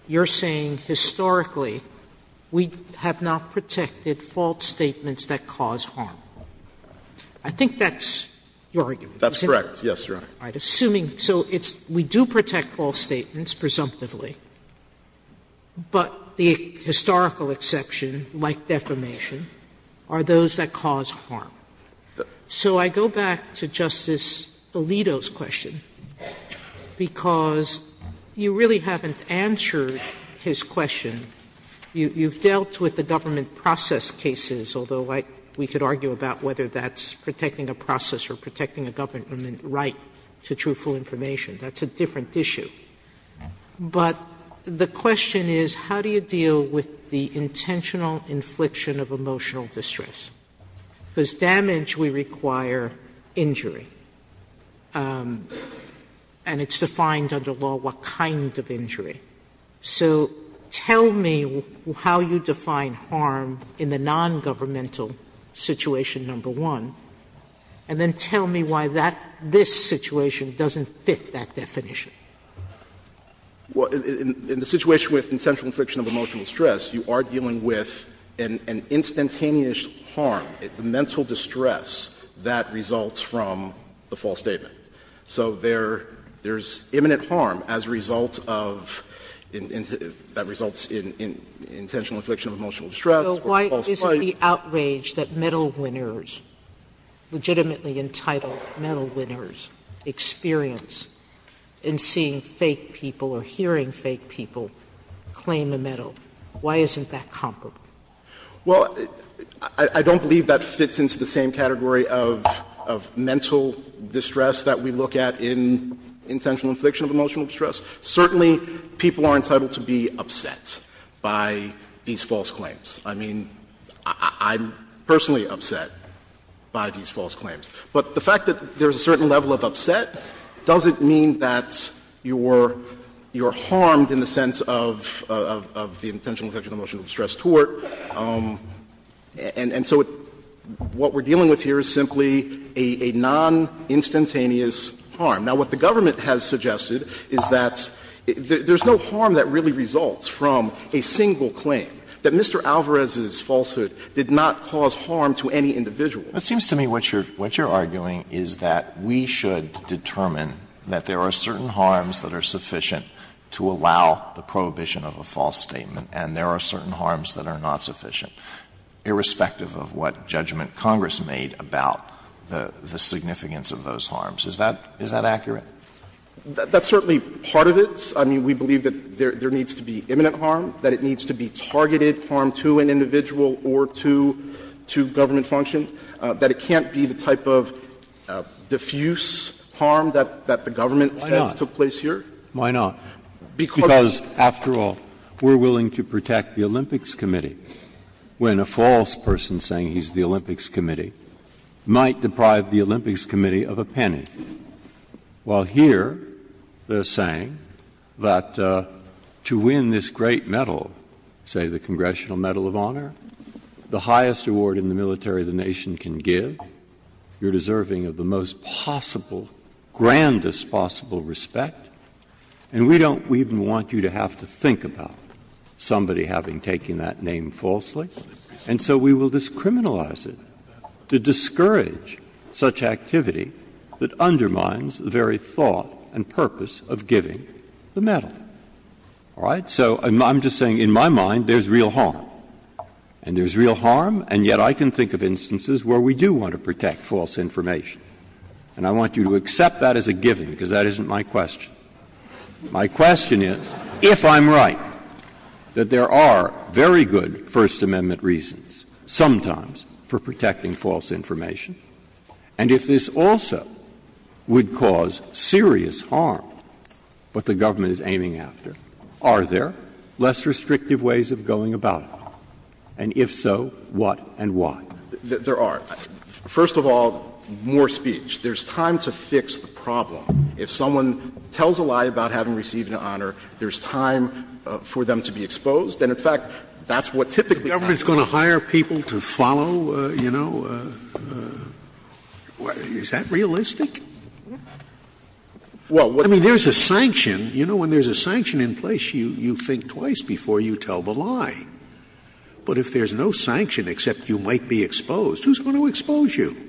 you're saying historically we have not protected false statements that cause harm. I think that's your argument, isn't it? That's correct. Yes, Your Honor. All right. Assuming — so it's — we do protect false statements, presumptively, but the historical exception, like defamation, are those that cause harm. So I go back to Justice Alito's question, because you really haven't answered his question. You've dealt with the government process cases, although we could argue about whether that's protecting a process or protecting a government right to truthful information. That's a different issue. But the question is, how do you deal with the intentional infliction of emotional distress? Because damage, we require injury. And it's defined under law what kind of injury. So tell me how you define harm in the nongovernmental situation number one, and then tell me why that — this situation doesn't fit that definition. Well, in the situation with intentional infliction of emotional stress, you are dealing with an instantaneous harm, the mental distress that results from the false statement. So there's imminent harm as a result of — that results in intentional infliction of emotional distress or false — So why isn't the outrage that medal winners, legitimately entitled medal winners, experience in seeing fake people or hearing fake people claim a medal, why isn't that comparable? Well, I don't believe that fits into the same category of mental distress that we look at in intentional infliction of emotional distress. Certainly, people are entitled to be upset by these false claims. I mean, I'm personally upset by these false claims. But the fact that there's a certain level of upset doesn't mean that you're harmed in the sense of the intentional infliction of emotional distress tort. And so what we're dealing with here is simply a noninstantaneous harm. Now, what the government has suggested is that there's no harm that really results from a single claim, that Mr. Alvarez's falsehood did not cause harm to any individual. But it seems to me what you're arguing is that we should determine that there are certain harms that are sufficient to allow the prohibition of a false statement, and there are certain harms that are not sufficient, irrespective of what judgment Congress made about the significance of those harms. Is that accurate? That's certainly part of it. I mean, we believe that there needs to be imminent harm, that it needs to be targeted harm to an individual or to government function, that it can't be the type of diffuse harm that the government tends to put on individuals. Is that the case here? Why not? Because, after all, we're willing to protect the Olympics Committee when a false person saying he's the Olympics Committee might deprive the Olympics Committee of a penny, while here they're saying that to win this great medal, say the Congressional Medal of Honor, the highest award in the military the nation can give, you're deserving of the most possible, grandest possible respect, and we don't even want you to have to think about somebody having taken that name falsely. And so we will discriminalize it to discourage such activity that undermines the very thought and purpose of giving the medal. All right? So I'm just saying in my mind there's real harm. And there's real harm, and yet I can think of instances where we do want to protect false information. And I want you to accept that as a given, because that isn't my question. My question is, if I'm right, that there are very good First Amendment reasons, sometimes, for protecting false information, and if this also would cause serious harm, what the government is aiming after, are there less restrictive ways of going about it? And if so, what and why? There are. First of all, more speech. There's time to fix the problem. If someone tells a lie about having received an honor, there's time for them to be exposed, and in fact, that's what typically happens. Scalia's going to hire people to follow, you know? Is that realistic? I mean, there's a sanction. You know, when there's a sanction in place, you think twice before you tell the lie. But if there's no sanction except you might be exposed, who's going to expose you?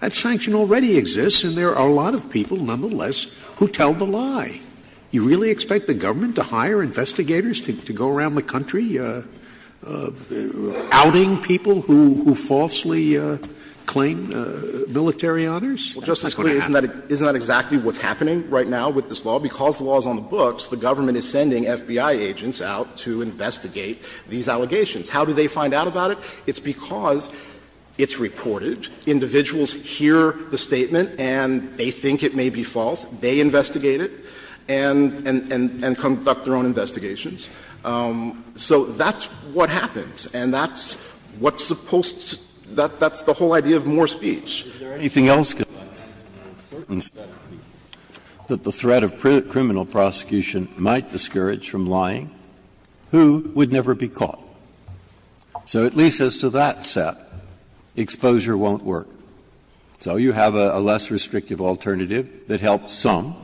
That sanction already exists, and there are a lot of people, nonetheless, who tell the lie. You really expect the government to hire investigators to go around the country outing people who falsely claim military honors? That's not going to happen. Well, Justice Scalia, isn't that exactly what's happening right now with this law? It's because it's reported, individuals hear the statement, and they think it may be false. They investigate it and conduct their own investigations. So that's what happens, and that's what's supposed to be the whole idea of more speech. Breyer. Is there anything else that the threat of criminal prosecution might discourage from lying? Who would never be caught? So at least as to that set, exposure won't work. So you have a less restrictive alternative that helps some,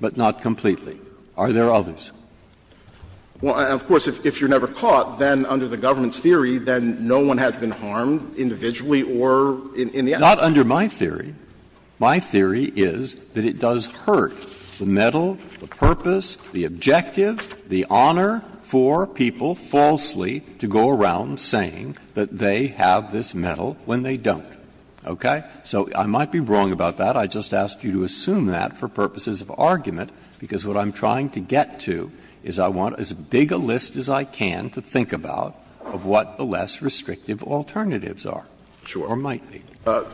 but not completely. Are there others? Well, of course, if you're never caught, then under the government's theory, then no one has been harmed individually or in the act? Not under my theory. My theory is that it does hurt the medal, the purpose, the objective, the honor for people falsely to go around saying that they have this medal when they don't. Okay? So I might be wrong about that. I just asked you to assume that for purposes of argument, because what I'm trying to get to is I want as big a list as I can to think about of what the less restrictive alternatives are or might be. Sure.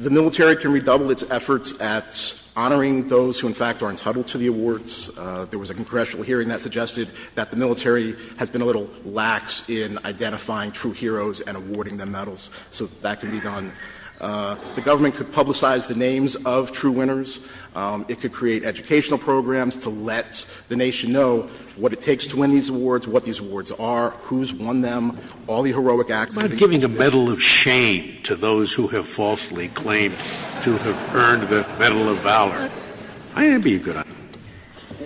The military can redouble its efforts at honoring those who, in fact, are entitled to the awards. There was a congressional hearing that suggested that the military has been a little lax in identifying true heroes and awarding them medals, so that can be done. The government could publicize the names of true winners. It could create educational programs to let the nation know what it takes to win these awards, what these awards are, who's won them, all the heroic acts that have been committed. Scalia I'm not giving a medal of shame to those who have falsely claimed to have earned the Medal of Valor. I'd be a good honor.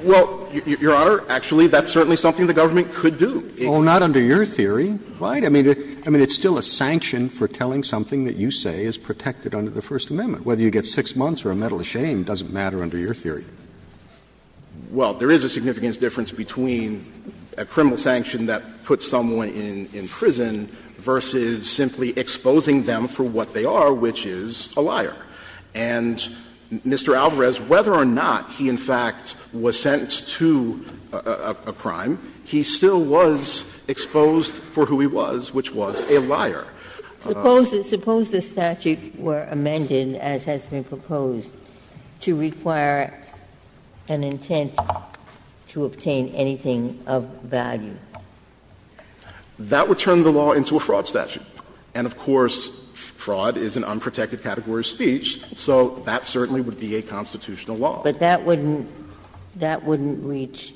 Well, Your Honor, actually, that's certainly something the government could do. Roberts Well, not under your theory. I mean, it's still a sanction for telling something that you say is protected under the First Amendment. Whether you get six months or a medal of shame doesn't matter under your theory. Scalia Well, there is a significant difference between a criminal sanction that puts someone in prison versus simply exposing them for what they are, which is a liar. And Mr. Alvarez, whether or not he in fact was sentenced to a crime, he still was exposed for who he was, which was a liar. Ginsburg Suppose the statute were amended, as has been proposed, to require an intent to obtain anything of value. Scalia That would turn the law into a fraud statute. And of course, fraud is an unprotected category of speech, so that certainly would be a constitutional law. Ginsburg But that wouldn't reach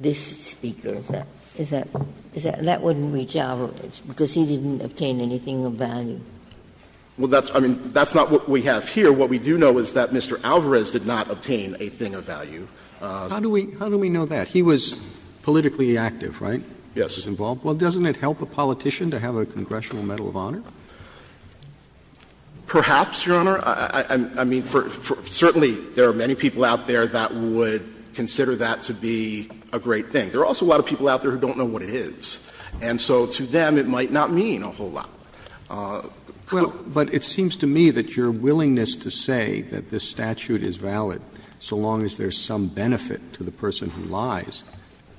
this Speaker, is that? That wouldn't reach Alvarez, because he didn't obtain anything of value. Scalia Well, that's not what we have here. What we do know is that Mr. Alvarez did not obtain a thing of value. Roberts How do we know that? He was politically active, right? Scalia Yes. Roberts Well, doesn't it help a politician to have a congressional medal of honor? Scalia Perhaps, Your Honor. I mean, certainly there are many people out there that would consider that to be a great thing. There are also a lot of people out there who don't know what it is. And so to them, it might not mean a whole lot. Roberts But it seems to me that your willingness to say that this statute is valid so long as there is some benefit to the person who lies,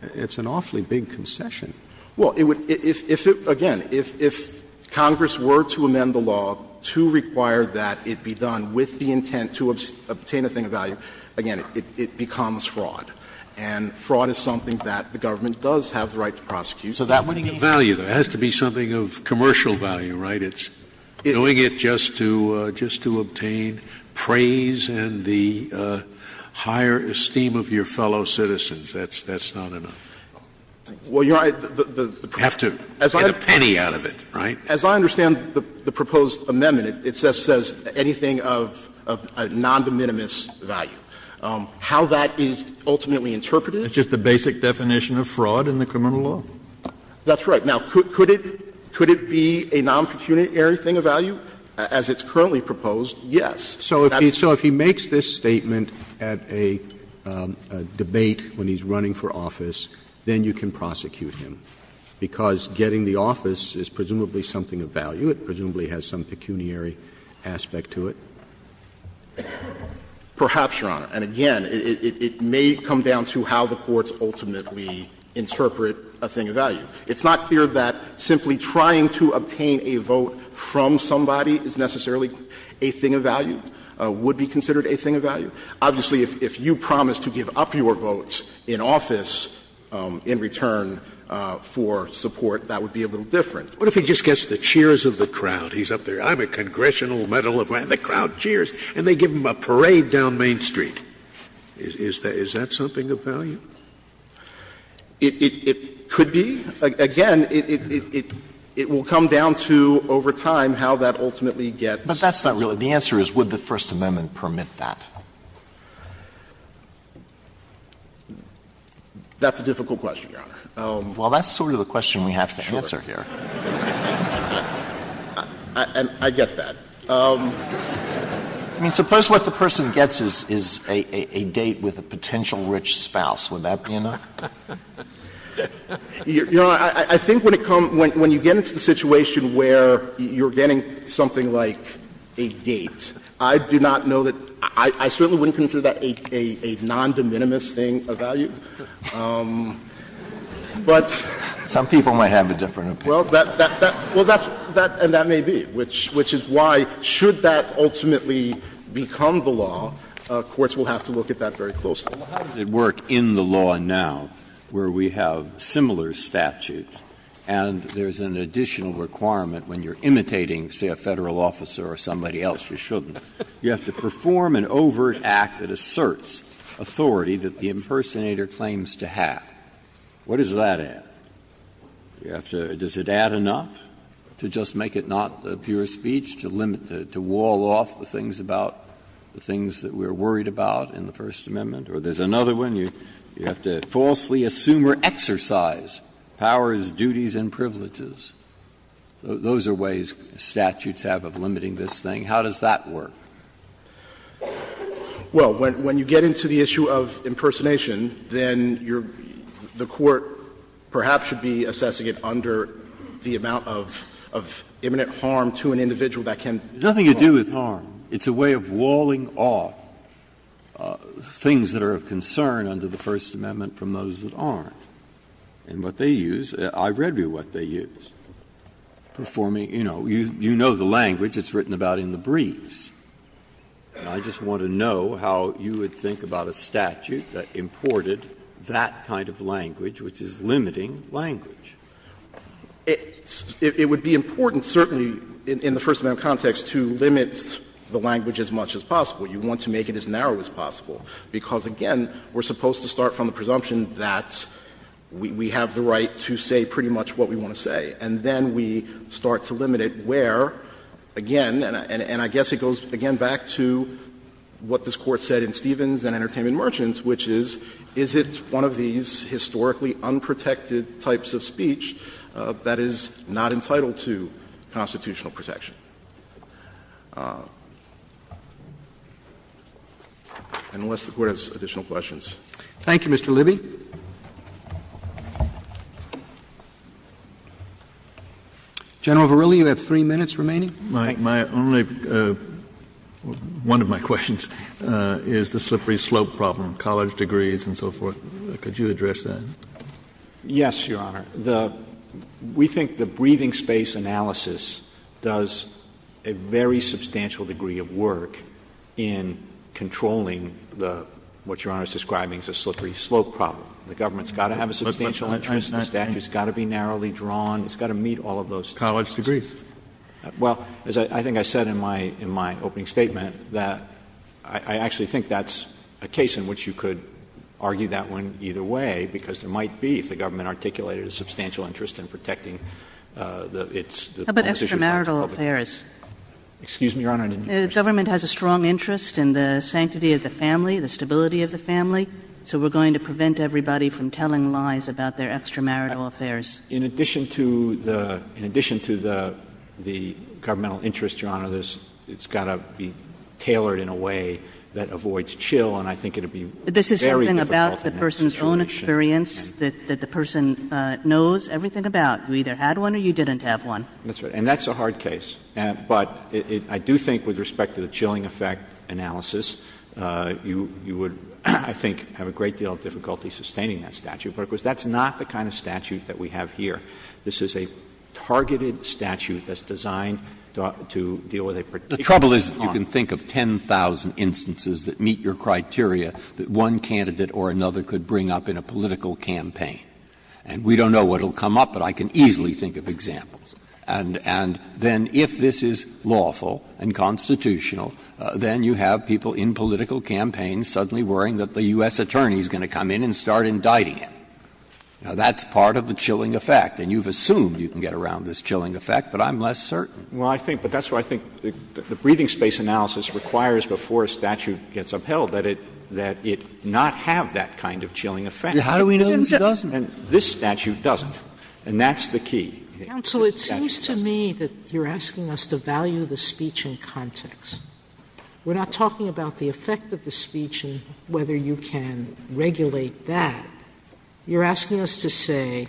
it's an awfully big concession. Scalia Well, it would be, again, if Congress were to amend the law to require that it be done with the intent to obtain a thing of value, again, it becomes fraud. And fraud is something that the government does have the right to prosecute. So that would be a little bit of a concession. Scalia Value, though, has to be something of commercial value, right? It's doing it just to obtain praise and the higher esteem of your fellow citizens. That's not enough. Scalia Well, Your Honor, the proposed amendment says anything of non-de minimis value. How that is ultimately interpreted? Kennedy It's just the basic definition of fraud in the criminal law. Scalia That's right. Now, could it be a non-pecuniary thing of value? As it's currently proposed, yes. Roberts So if he makes this statement at a debate when he's running for office, then you can prosecute him, because getting the office is presumably something of value. It presumably has some pecuniary aspect to it. Kennedy Perhaps, Your Honor. And again, it may come down to how the courts ultimately interpret a thing of value. It's not clear that simply trying to obtain a vote from somebody is necessarily a thing of value, would be considered a thing of value. Obviously, if you promise to give up your votes in office in return for support, that would be a little different. Scalia What if he just gets the cheers of the crowd? He's up there. I'm a congressional medal of rank. The crowd cheers, and they give him a parade down Main Street. Is that something of value? Kennedy It could be. Again, it will come down to, over time, how that ultimately gets. Alito But that's not really the answer is, would the First Amendment permit that? Kennedy That's a difficult question, Your Honor. Alito Well, that's sort of the question we have to answer here. I get that. Alito I mean, suppose what the person gets is a date with a potential rich spouse. Would that be enough? Kennedy Your Honor, I think when it comes to the situation where you're getting something like a date, I do not know that — I certainly wouldn't consider that a non-de minimis thing of value. But — Alito Some people might have a different opinion. Kennedy Well, that's — and that may be, which is why, should that ultimately become the law, courts will have to look at that very closely. Breyer How does it work in the law now, where we have similar statutes and there's an additional requirement when you're imitating, say, a Federal officer or somebody else? You shouldn't. You have to perform an overt act that asserts authority that the impersonator claims to have. What does that add? You have to — does it add enough to just make it not pure speech, to limit it, to wall off the things about — the things that we're worried about in the First Amendment? Or there's another one, you have to falsely assume or exercise powers, duties, and privileges. Those are ways statutes have of limiting this thing. How does that work? Alito But when you get into the issue of impersonation, then you're — the Court, perhaps, should be assessing it under the amount of imminent harm to an individual that can perform. Breyer There's nothing to do with harm. It's a way of walling off things that are of concern under the First Amendment from those that aren't. And what they use, I read you what they use, performing, you know, you know the language it's written about in the briefs. And I just want to know how you would think about a statute that imported that kind of language, which is limiting language. Alito It would be important, certainly in the First Amendment context, to limit the language as much as possible. You want to make it as narrow as possible, because, again, we're supposed to start from the presumption that we have the right to say pretty much what we want to say. And then we start to limit it where, again, and I guess it goes, again, back to what this Court said in Stevens and Entertainment Merchants, which is, is it one of these historically unprotected types of speech that is not entitled to constitutional protection? Unless the Court has additional questions. Roberts. Thank you, Mr. Libby. General Verrilli, you have three minutes remaining. Verrilli, my only, one of my questions, is the slippery slope problem, college degrees and so forth. Could you address that? Verrilli, Yes, Your Honor. The, we think the breathing space analysis does a very substantial degree of work in controlling the, what Your Honor is describing as a slippery slope problem. The government's got to have a substantial interest, the statute's got to be narrowly drawn, it's got to meet all of those. College degrees. Well, as I think I said in my, in my opening statement, that I actually think that's a case in which you could argue that one either way, because there might be, if the government articulated a substantial interest in protecting the, it's, the. How about extramarital affairs? Excuse me, Your Honor, I didn't hear you. The government has a strong interest in the sanctity of the family, the stability of the family, so we're going to prevent everybody from telling lies about their extramarital affairs. In addition to the, in addition to the, the governmental interest, Your Honor, there's, it's got to be tailored in a way that avoids chill, and I think it would be very difficult in that situation. This is something about the person's own experience that, that the person knows everything about. You either had one or you didn't have one. That's right. And that's a hard case. But I do think with respect to the chilling effect analysis, you, you would, I think, have a great deal of difficulty sustaining that statute. But, of course, that's not the kind of statute that we have here. This is a targeted statute that's designed to deal with a particular problem. Breyer. The trouble is you can think of 10,000 instances that meet your criteria that one candidate or another could bring up in a political campaign. And we don't know what will come up, but I can easily think of examples. And, and then if this is lawful and constitutional, then you have people in political campaigns suddenly worrying that the U.S. attorney is going to come in and start indicting him. Now, that's part of the chilling effect, and you've assumed you can get around this chilling effect, but I'm less certain. Well, I think, but that's why I think the breathing space analysis requires before a statute gets upheld that it, that it not have that kind of chilling effect. How do we know this doesn't? And this statute doesn't, and that's the key. Counsel, it seems to me that you're asking us to value the speech in context. We're not talking about the effect of the speech and whether you can regulate that. You're asking us to say,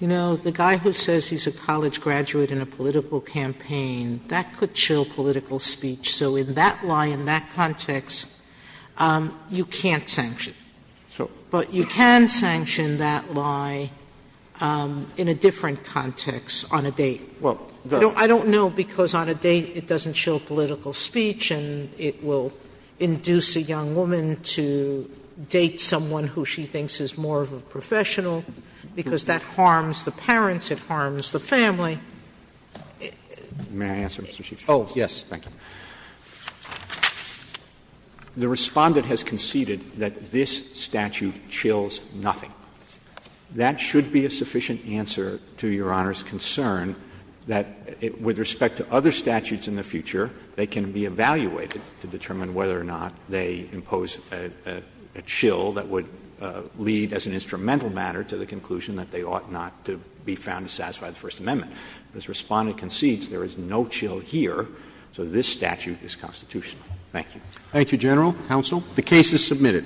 you know, the guy who says he's a college graduate in a political campaign, that could chill political speech. So in that lie, in that context, you can't sanction. So. Sotomayor But you can sanction that lie in a different context on a date. I don't know, because on a date it doesn't chill political speech and it will induce a young woman to date someone who she thinks is more of a professional, because that harms the parents, it harms the family. May I answer, Mr. Chief Justice? Roberts Oh, yes, thank you. The Respondent has conceded that this statute chills nothing. That should be a sufficient answer to Your Honor's concern that with respect to other statutes in the future, they can be evaluated to determine whether or not they impose a chill that would lead as an instrumental matter to the conclusion that they ought not to be found to satisfy the First Amendment. But as the Respondent concedes, there is no chill here, so this statute is constitutional. Thank you. Roberts Thank you, General. Counsel. The case is submitted.